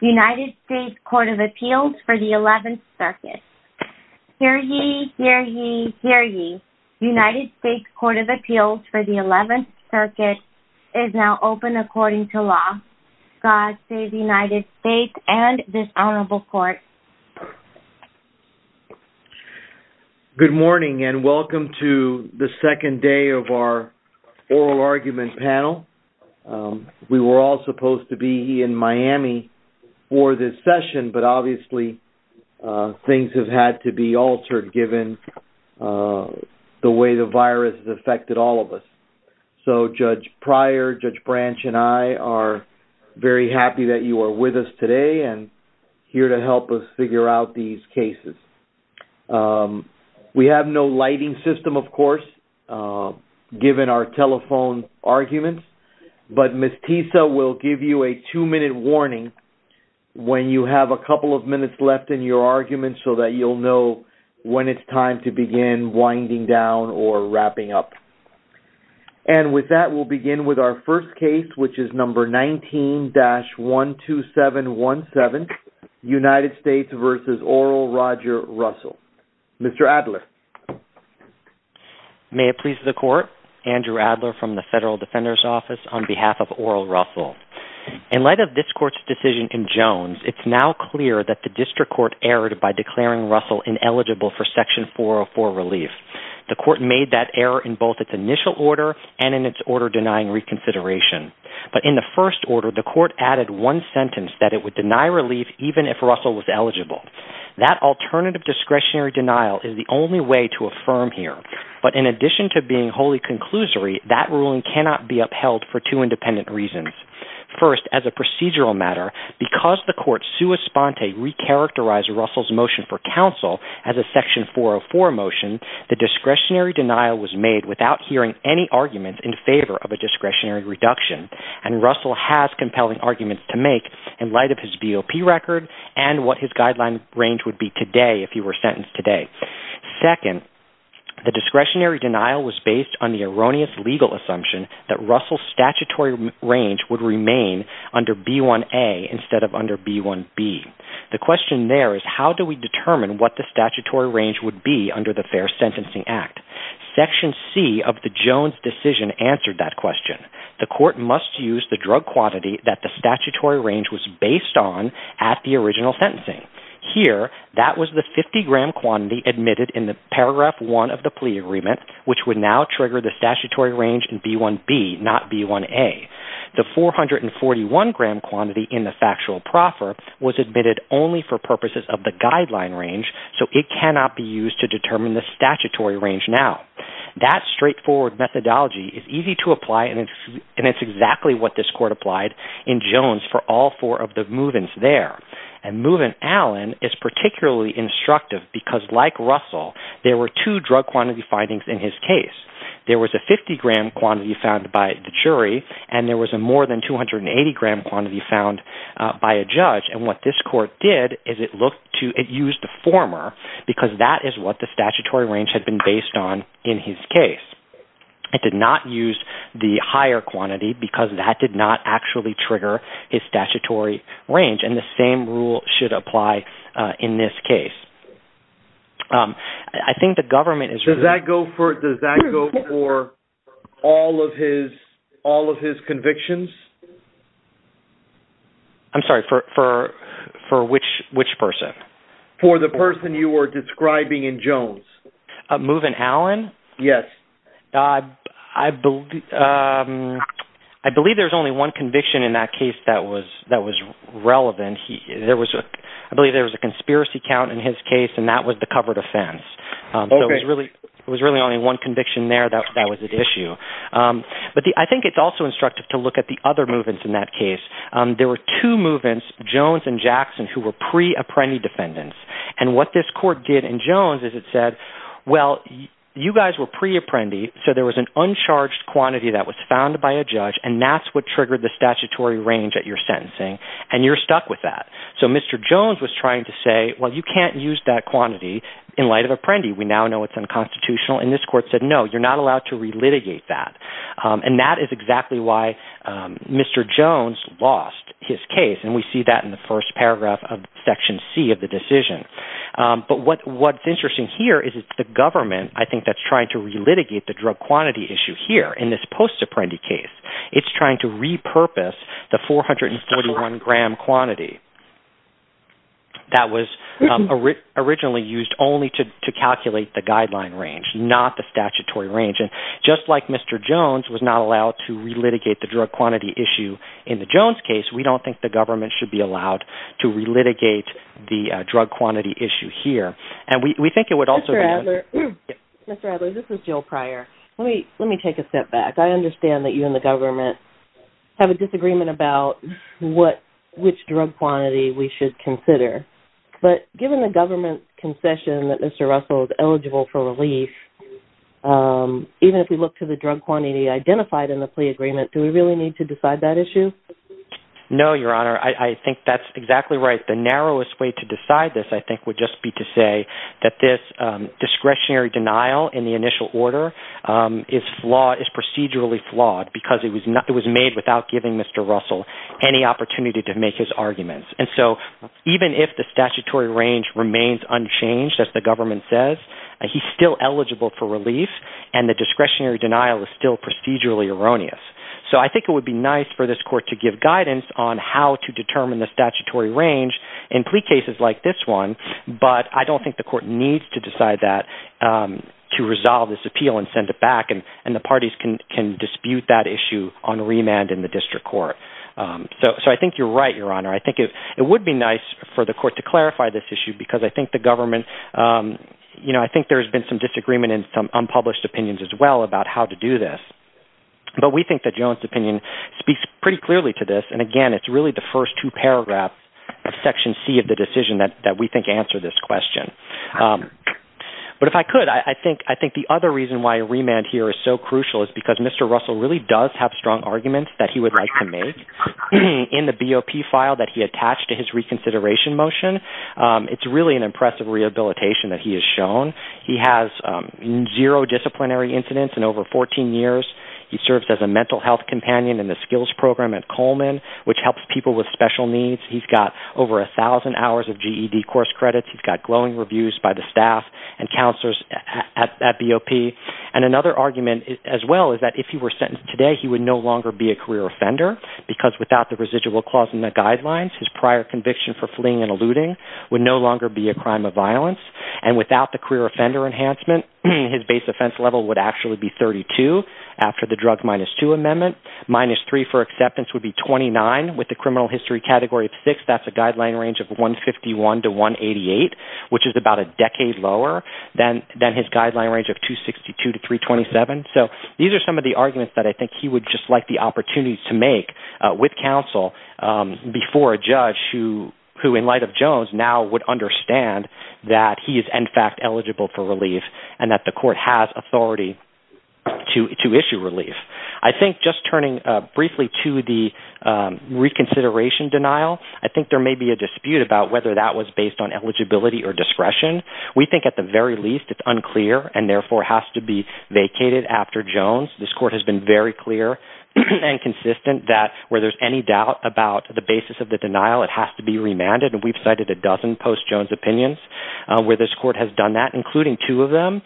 United States Court of Appeals for the 11th Circuit. Hear ye, hear ye, hear ye. United States Court of Appeals for the 11th Circuit is now open according to law. God save the United States and this honorable court. Good morning and welcome to the second day of our oral argument panel. We were all supposed to be in for this session but obviously things have had to be altered given the way the virus has affected all of us. So Judge Pryor, Judge Branch and I are very happy that you are with us today and here to help us figure out these cases. We have no lighting system of course given our telephone arguments but Ms. Tisa will give you a two-minute warning when you have a couple of minutes left in your argument so that you'll know when it's time to begin winding down or wrapping up. And with that we'll begin with our first case which is number 19-12717 United States v. Oral Roger Russell. Mr. Adler. May it please the court, Andrew on behalf of Oral Russell. In light of this court's decision in Jones it's now clear that the district court erred by declaring Russell ineligible for section 404 relief. The court made that error in both its initial order and in its order denying reconsideration. But in the first order the court added one sentence that it would deny relief even if Russell was eligible. That alternative discretionary denial is the only way to affirm here. But in addition to being wholly conclusory that ruling cannot be upheld for two independent reasons. First as a procedural matter because the court sui sponte recharacterized Russell's motion for counsel as a section 404 motion the discretionary denial was made without hearing any arguments in favor of a discretionary reduction. And Russell has compelling arguments to make in light of his BOP record and what his guideline range would be today if he were sentenced today. Second the discretionary denial was based on the erroneous legal assumption that Russell's statutory range would remain under B1A instead of under B1B. The question there is how do we determine what the statutory range would be under the Fair Sentencing Act? Section C of the Jones decision answered that question. The court must use the drug quantity that the statutory range was based on at the original sentencing. Here that was the 50 gram quantity admitted in the paragraph 1 of the plea agreement which would now trigger the statutory range in B1B not B1A. The 441 gram quantity in the factual proffer was admitted only for purposes of the guideline range so it cannot be used to determine the statutory range now. That straightforward methodology is easy to apply and it's exactly what this court applied in Jones for all four of the movements there. And movement Allen is particularly instructive because like Russell there were two drug quantity findings in his case. There was a 50 gram quantity found by the jury and there was a more than 280 gram quantity found by a judge and what this court did is it looked to it used the former because that is what the statutory range had been based on in his case. It did not use the higher quantity because that did not actually trigger his statutory range and the same rule should apply in this case. I think the government is... Does that go for all of his convictions? I'm sorry for which person? For the person you were describing in Jones. Movement Allen? Yes. I believe there's only one conviction in that case that was relevant. I believe there was a conspiracy count in his case and that was the covered offense. Okay. It was really only one conviction there that was at issue. But I think it's also instructive to look at the other movements in that case. There were two movements, Jones and Jackson, who were pre-apprendi defendants and what this court did in Jones is it said well you guys were pre-apprendi so there was an uncharged quantity that was found by a judge and that's what triggered the statutory range at your sentencing and you're stuck with that. So Mr. Jones was trying to say well you can't use that quantity in light of apprendi. We now know it's unconstitutional and this court said no you're not allowed to re-litigate that and that is exactly why Mr. Jones lost his case and we see that in the first paragraph of section C of the decision. But what's interesting here is the government I think that's trying to re-litigate the drug quantity issue here in this post-apprendi case. It's trying to repurpose the 441 gram quantity. That was originally used only to calculate the guideline range, not the statutory range. And just like Mr. Jones was not allowed to re-litigate the drug quantity issue in the Jones case, we don't think the government should be allowed to re-litigate the drug quantity issue here. And we think it would also be... Mr. Adler, this is Jill Pryor. Let me take a step back. I understand that you and the government have a disagreement about which drug quantity we should consider. But given the government's concession that Mr. Russell is eligible for relief, even if we look to the drug quantity identified in the plea agreement, do we really need to decide that issue? No, Your Honor. I think that's exactly right. The narrowest way to decide this I think would just be to say that this discretionary denial in the initial order is procedurally flawed because it was made without giving Mr. Russell any opportunity to make his arguments. And so even if the statutory range remains unchanged, as the government says, he's still eligible for relief and the discretionary denial is still procedurally erroneous. So I think it would be nice for this court to give guidance on how to determine the statutory range in plea cases like this one, but I don't think the court needs to decide that to resolve this appeal and send it back and the parties can dispute that issue on remand in the district court. So I think you're right, Your Honor. I think it would be nice for the court to clarify this issue because I think the government – I think there's been some disagreement and some unpublished opinions as well about how to do this. But we think that Joan's opinion speaks pretty clearly to this. And again, it's really the first two paragraphs of Section C of the decision that we think answer this question. But if I could, I think the other reason why remand here is so crucial is because Mr. Russell really does have strong arguments that he would like to make in the BOP file that he attached to his reconsideration motion. It's really an impressive rehabilitation that he has shown. He has zero disciplinary incidents in over 14 years. He serves as a mental health companion in the skills program at Coleman, which helps people with special needs. He's got over 1,000 hours of GED course credits. He's got glowing reviews by the staff and counselors at BOP. And another argument as well is that if he were sentenced today, he would no longer be a career offender because without the residual clause in the guidelines, his prior conviction for fleeing and eluding would no longer be a crime of violence. And without the career offender enhancement, his base offense level would actually be 32 after the drug minus two amendment. Minus three for acceptance would be 29 with the criminal history category of six. That's a guideline range of 151 to 188, which is about a decade lower than his guideline range of 262 to 327. So these are some of the arguments that I think he would just like the opportunity to make with counsel before a judge who, in light of Jones, now would understand that he is in fact eligible for relief and that the court has authority to issue relief. I think just turning briefly to the reconsideration denial, I think there may be a dispute about whether that was based on eligibility or discretion. We think at the very least it's unclear and therefore has to be vacated after Jones. This court has been very clear and consistent that where there's any doubt about the basis of the denial, it has to be remanded. And we've cited a dozen post-Jones opinions where this court has done that, including two of them,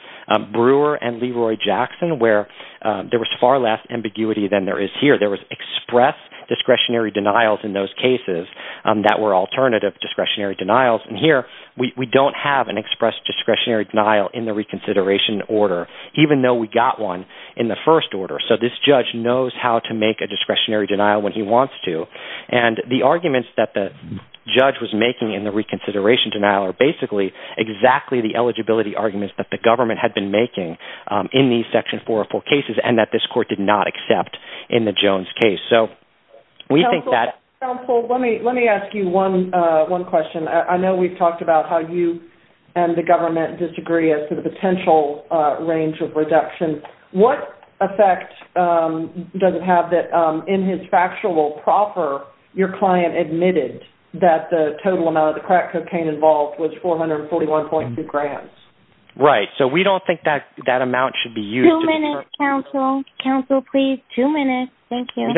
Brewer and Leroy Jackson, where there was far less ambiguity than there is here. There was express discretionary denials in those cases that were alternative discretionary denials. And here, we don't have an express discretionary denial in the reconsideration order, even though we got one in the first order. So this judge knows how to make a discretionary denial when he wants to. And the arguments that the judge was making in the reconsideration denial are basically exactly the eligibility arguments that the government had been making in these section 404 cases and that this court did not accept in the Jones case. Counsel, let me ask you one question. I know we've talked about how you and the government disagree as to the potential range of reduction. What effect does it have that in his factual proffer, your client admitted that the total amount of the crack cocaine involved was 441.2 grams? Right. So we don't think that amount should be used. Two minutes, counsel. Counsel, please. Two minutes. Thank you.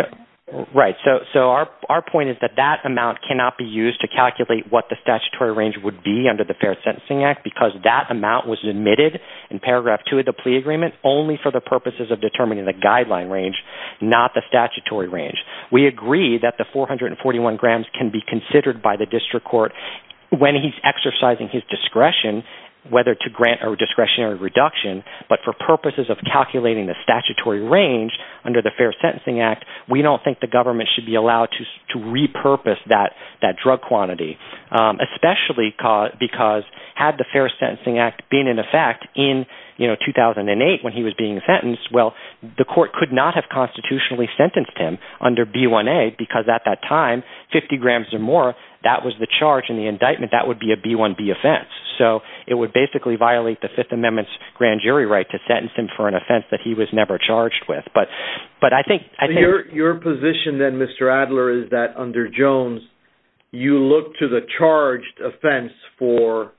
Right. So our point is that that amount cannot be used to calculate what the statutory range would be under the Fair Sentencing Act because that amount was admitted in paragraph two of the plea agreement only for the purposes of determining the guideline range, not the statutory range. We agree that the 441 grams can be considered by the district court when he's exercising his discretion, whether to grant a discretionary reduction, but for purposes of calculating the statutory range under the Fair Sentencing Act, we don't think the government should be allowed to repurpose that drug quantity. Especially because had the Fair Sentencing Act been in effect in 2008 when he was being sentenced, well, the court could not have constitutionally sentenced him under B1A because at that time, 50 grams or more, that was the charge in the indictment. That would be a B1B offense. So it would basically violate the Fifth Amendment's grand jury right to sentence him for an offense that he was never charged with. Your position then, Mr. Adler, is that under Jones, you look to the charged offense for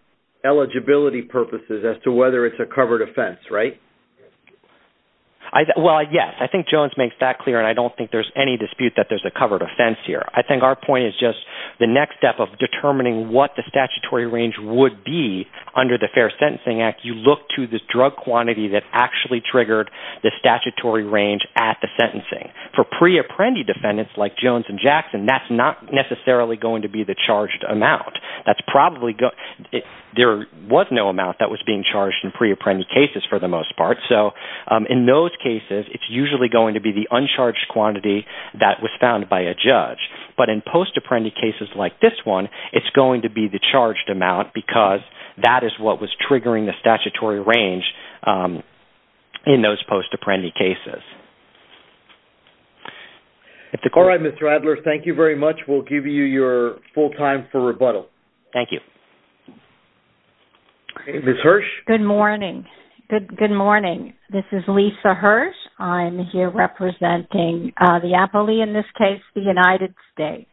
eligibility purposes as to whether it's a covered offense, right? Well, yes. I think Jones makes that clear, and I don't think there's any dispute that there's a covered offense here. I think our point is just the next step of determining what the statutory range would be under the Fair Sentencing Act, you look to the drug quantity that actually triggered the statutory range at the sentencing. For pre-apprendee defendants like Jones and Jackson, that's not necessarily going to be the charged amount. There was no amount that was being charged in pre-apprendee cases for the most part, so in those cases, it's usually going to be the uncharged quantity that was found by a judge. But in post-apprendee cases like this one, it's going to be the charged amount because that is what was triggering the statutory range in those post-apprendee cases. All right, Mr. Adler. Thank you very much. We'll give you your full time for rebuttal. Thank you. Ms. Hirsch? Good morning. This is Lisa Hirsch. I'm here representing the appellee in this case, the United States.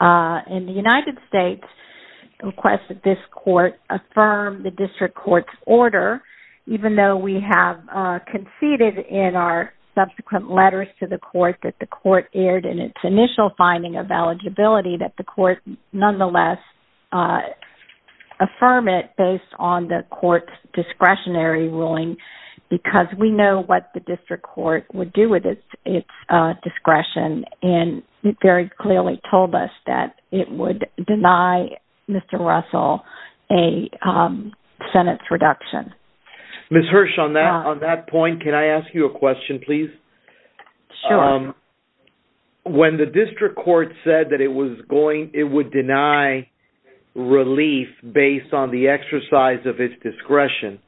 The United States requested this court affirm the district court's order, even though we have conceded in our subsequent letters to the court that the court erred in its initial finding of eligibility that the court nonetheless affirm it based on the court's discretionary ruling because we know what the district court would do with its discretion, and it very clearly told us that it would deny Mr. Russell a sentence reduction. Ms. Hirsch, on that point, can I ask you a question, please? Sure. When the district court said that it would deny relief based on the exercise of its discretion,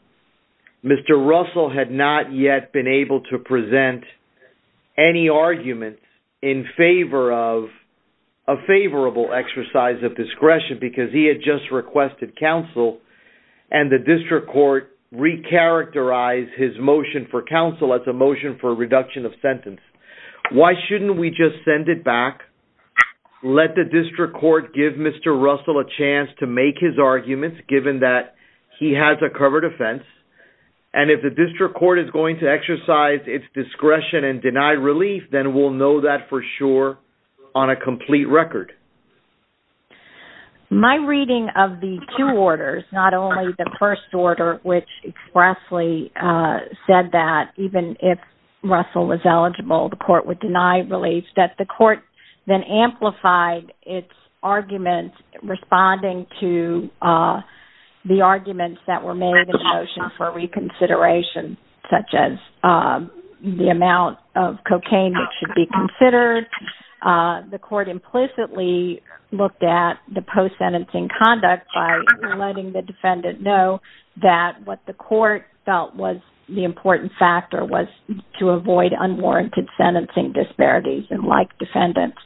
Mr. Russell had not yet been able to present any arguments in favor of a favorable exercise of discretion because he had just requested counsel, and the district court re-characterized his motion for counsel as a motion for a reduction of sentence. Why shouldn't we just send it back, let the district court give Mr. Russell a chance to make his arguments given that he has a covered offense, and if the district court is going to exercise its discretion and deny relief, then we'll know that for sure on a complete record? My reading of the two orders, not only the first order, which expressly said that even if Russell was eligible, the court would deny relief, that the court then amplified its arguments responding to the arguments that were made in the motion for reconsideration, such as the amount of cocaine that should be considered. The court implicitly looked at the post-sentencing conduct by letting the defendant know that what the court felt was the important factor was to avoid unwarranted sentencing disparities and like defendants.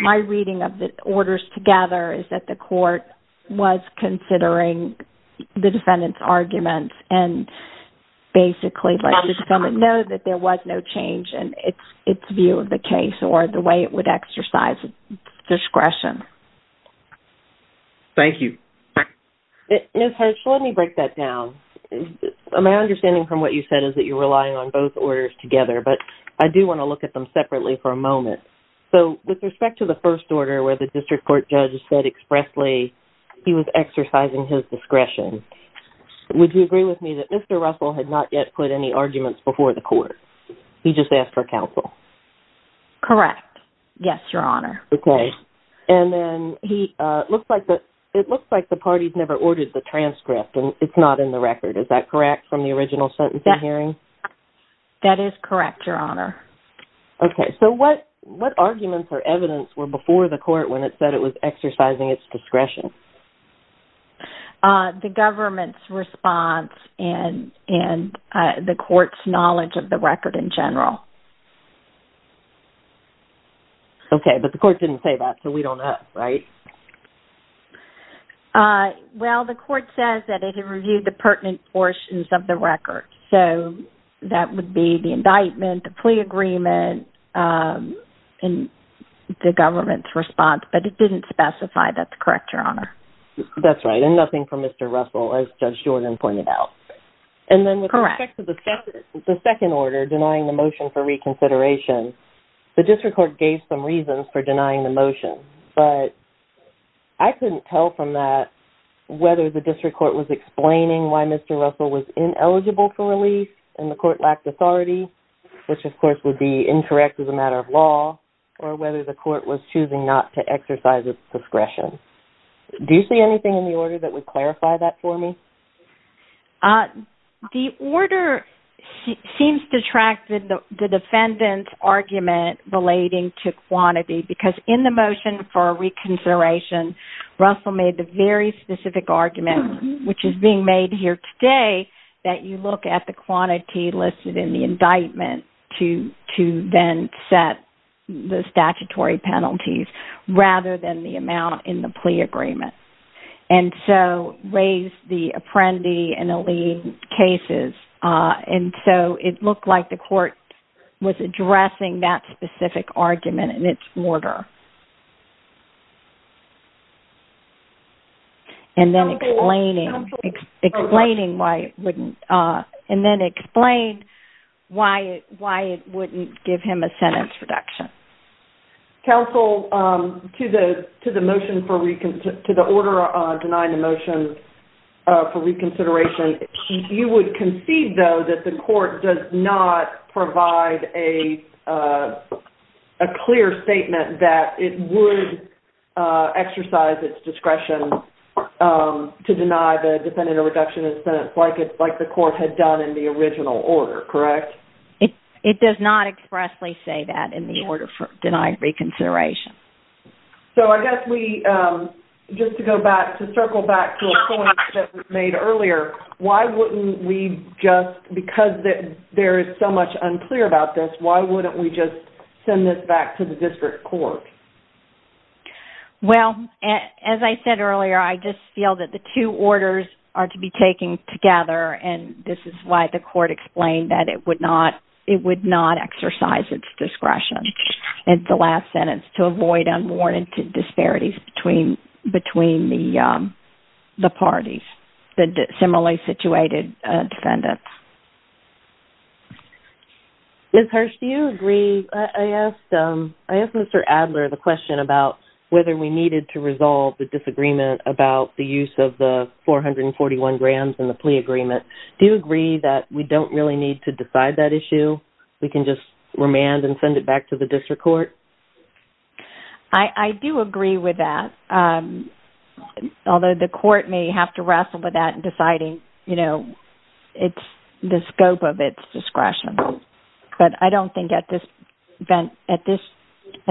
My reading of the orders together is that the court was considering the defendant's arguments and basically let the defendant know that there was no change in its view of the case or the way it would exercise its discretion. Thank you. Ms. Hirsch, let me break that down. My understanding from what you said is that you're relying on both orders together, but I do want to look at them separately for a moment. So, with respect to the first order where the district court judge said expressly he was exercising his discretion, would you agree with me that Mr. Russell had not yet put any arguments before the court? He just asked for counsel. Correct. Yes, Your Honor. It looks like the parties never ordered the transcript and it's not in the record. Is that correct from the original sentencing hearing? That is correct, Your Honor. Okay. So, what arguments or evidence were before the court when it said it was exercising its discretion? The government's response and the court's knowledge of the record in general. Okay, but the court didn't say that, so we don't know, right? Well, the court says that it had reviewed the pertinent portions of the record, so that would be the indictment, the plea agreement, and the government's response, but it didn't specify. That's correct, Your Honor. That's right, and nothing from Mr. Russell, as Judge Jordan pointed out. Correct. With respect to the second order, denying the motion for reconsideration, the district court gave some reasons for denying the motion, but I couldn't tell from that whether the district court was explaining why Mr. Russell was ineligible for release and the court lacked authority, which of course would be incorrect as a matter of law, or whether the court was choosing not to exercise its discretion. Do you see anything in the order that would clarify that for me? The order seems to track the defendant's argument relating to quantity, because in the motion for reconsideration, Russell made the very specific argument, which is being made here today, that you look at the quantity listed in the indictment to then set the statutory penalties, rather than the amount in the plea agreement. And so, raised the apprendee and the lead cases, and so it looked like the court was addressing that specific argument in its order. And then explaining why it wouldn't give him a sentence reduction. Counsel, to the order denying the motion for reconsideration, you would concede, though, that the court does not provide a clear statement that it would exercise its discretion to deny the defendant a reduction in sentence like the court had done in the original order, correct? It does not expressly say that in the order for denying reconsideration. So I guess we, just to go back, to circle back to a point that was made earlier, why wouldn't we just, because there is so much unclear about this, why wouldn't we just send this back to the district court? Well, as I said earlier, I just feel that the two orders are to be taken together, and this is why the court explained that it would not exercise its discretion in the last sentence to avoid unwarranted disparities between the parties, the similarly situated defendants. Ms. Hirsch, do you agree? I asked Mr. Adler the question about whether we needed to resolve the disagreement about the use of the 441 grams in the plea agreement. Do you agree that we don't really need to decide that issue? We can just remand and send it back to the district court? I do agree with that, although the court may have to wrestle with that in deciding, you know, the scope of its discretion. But I don't think at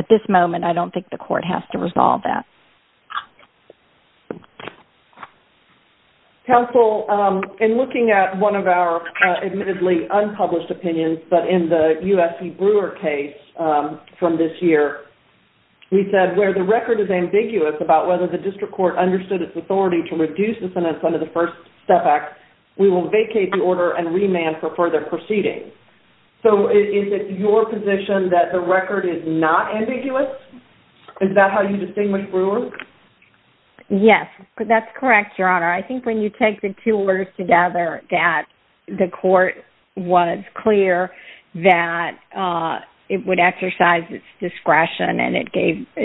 this moment, I don't think the court has to resolve that. Counsel, in looking at one of our admittedly unpublished opinions, but in the USC Brewer case from this year, we said where the record is ambiguous about whether the district court understood its authority to reduce the sentence under the First Step Act, we will vacate the order and remand for further proceedings. So is it your position that the record is not ambiguous? Is that how you distinguish Brewer? Yes, that's correct, Your Honor. I think when you take the two orders together, that the court was clear that it would exercise its discretion and it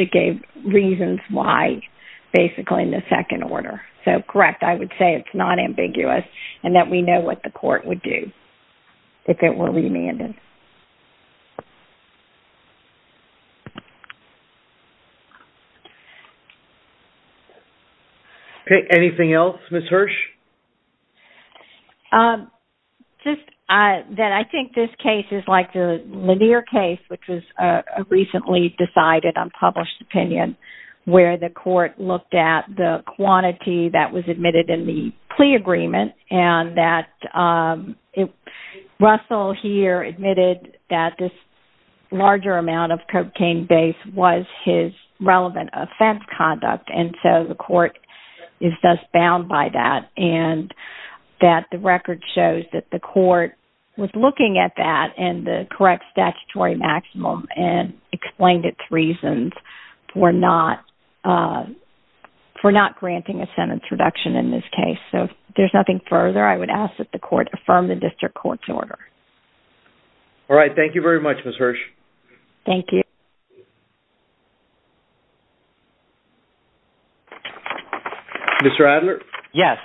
gave reasons why basically in the second order. So correct, I would say it's not ambiguous and that we know what the court would do if it were remanded. Okay, anything else, Ms. Hirsch? Just that I think this case is like the Lanier case, which was a recently decided unpublished opinion where the court looked at the quantity that was admitted in the plea agreement and that Russell here admitted that this larger amount of cocaine base was his relevant offense conduct and so the court is thus bound by that. And that the record shows that the court was looking at that and the correct statutory maximum and explained its reasons for not granting a sentence reduction in this case. So if there's nothing further, I would ask that the court affirm the district court's order. All right, thank you very much, Ms. Hirsch. Thank you. Mr. Adler? Yes,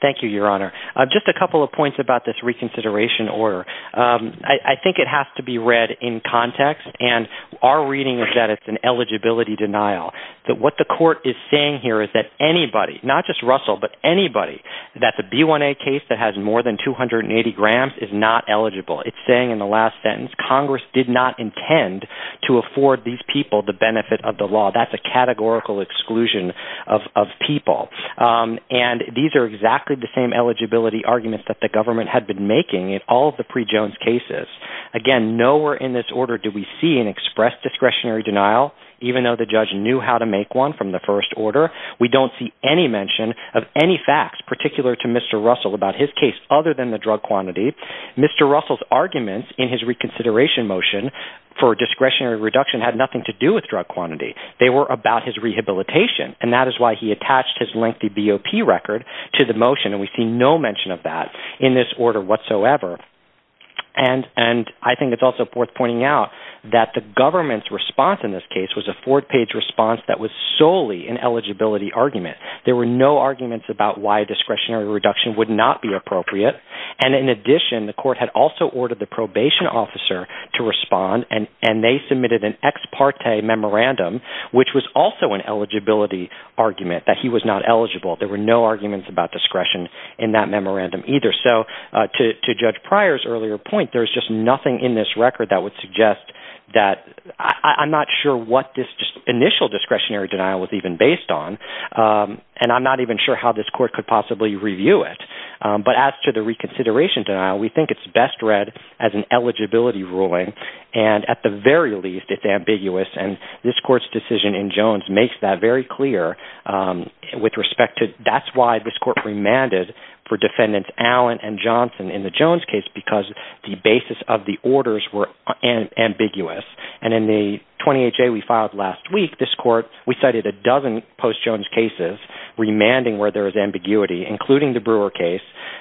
thank you, Your Honor. Just a couple of points about this reconsideration order. I think it has to be read in context and our reading is that it's an eligibility denial. That what the court is saying here is that anybody, not just Russell, but anybody that's a B1A case that has more than 280 grams is not eligible. It's saying in the last sentence, Congress did not intend to afford these people the benefit of the law. That's a categorical exclusion of people. And these are exactly the same eligibility arguments that the government had been making in all of the pre-Jones cases. Again, nowhere in this order do we see an expressed discretionary denial, even though the judge knew how to make one from the first order. We don't see any mention of any facts particular to Mr. Russell about his case other than the drug quantity. Mr. Russell's arguments in his reconsideration motion for discretionary reduction had nothing to do with drug quantity. They were about his rehabilitation, and that is why he attached his lengthy BOP record to the motion, and we see no mention of that in this order whatsoever. And I think it's also worth pointing out that the government's response in this case was a four-page response that was solely an eligibility argument. There were no arguments about why discretionary reduction would not be appropriate. And in addition, the court had also ordered the probation officer to respond, and they submitted an ex parte memorandum, which was also an eligibility argument that he was not eligible. There were no arguments about discretion in that memorandum either. So to Judge Pryor's earlier point, there's just nothing in this record that would suggest that – I'm not sure what this initial discretionary denial was even based on. And I'm not even sure how this court could possibly review it. But as to the reconsideration denial, we think it's best read as an eligibility ruling. And at the very least, it's ambiguous, and this court's decision in Jones makes that very clear with respect to – that's why this court remanded for defendants Allen and Johnson in the Jones case, because the basis of the orders were ambiguous. And in the 28-J we filed last week, this court – we cited a dozen post-Jones cases remanding where there was ambiguity, including the Brewer case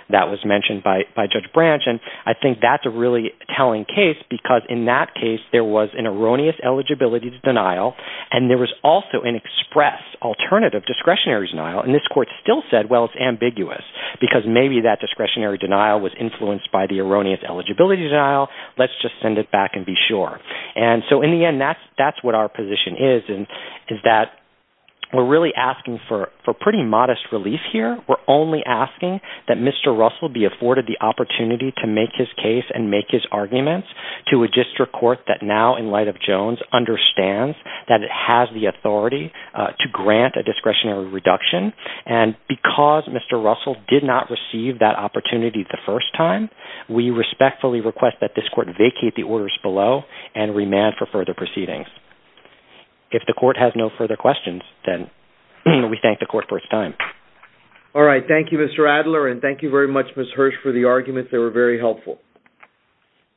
that was mentioned by Judge Branch. And I think that's a really telling case because in that case, there was an erroneous eligibility denial, and there was also an express alternative discretionary denial. And this court still said, well, it's ambiguous because maybe that discretionary denial was influenced by the erroneous eligibility denial. Let's just send it back and be sure. And so in the end, that's what our position is, is that we're really asking for pretty modest relief here. We're only asking that Mr. Russell be afforded the opportunity to make his case and make his arguments to a district court that now, in light of Jones, understands that it has the authority to grant a discretionary reduction. And because Mr. Russell did not receive that opportunity the first time, we respectfully request that this court vacate the orders below and remand for further proceedings. If the court has no further questions, then we thank the court for its time. All right. Thank you, Mr. Adler, and thank you very much, Ms. Hirsch, for the argument. They were very helpful.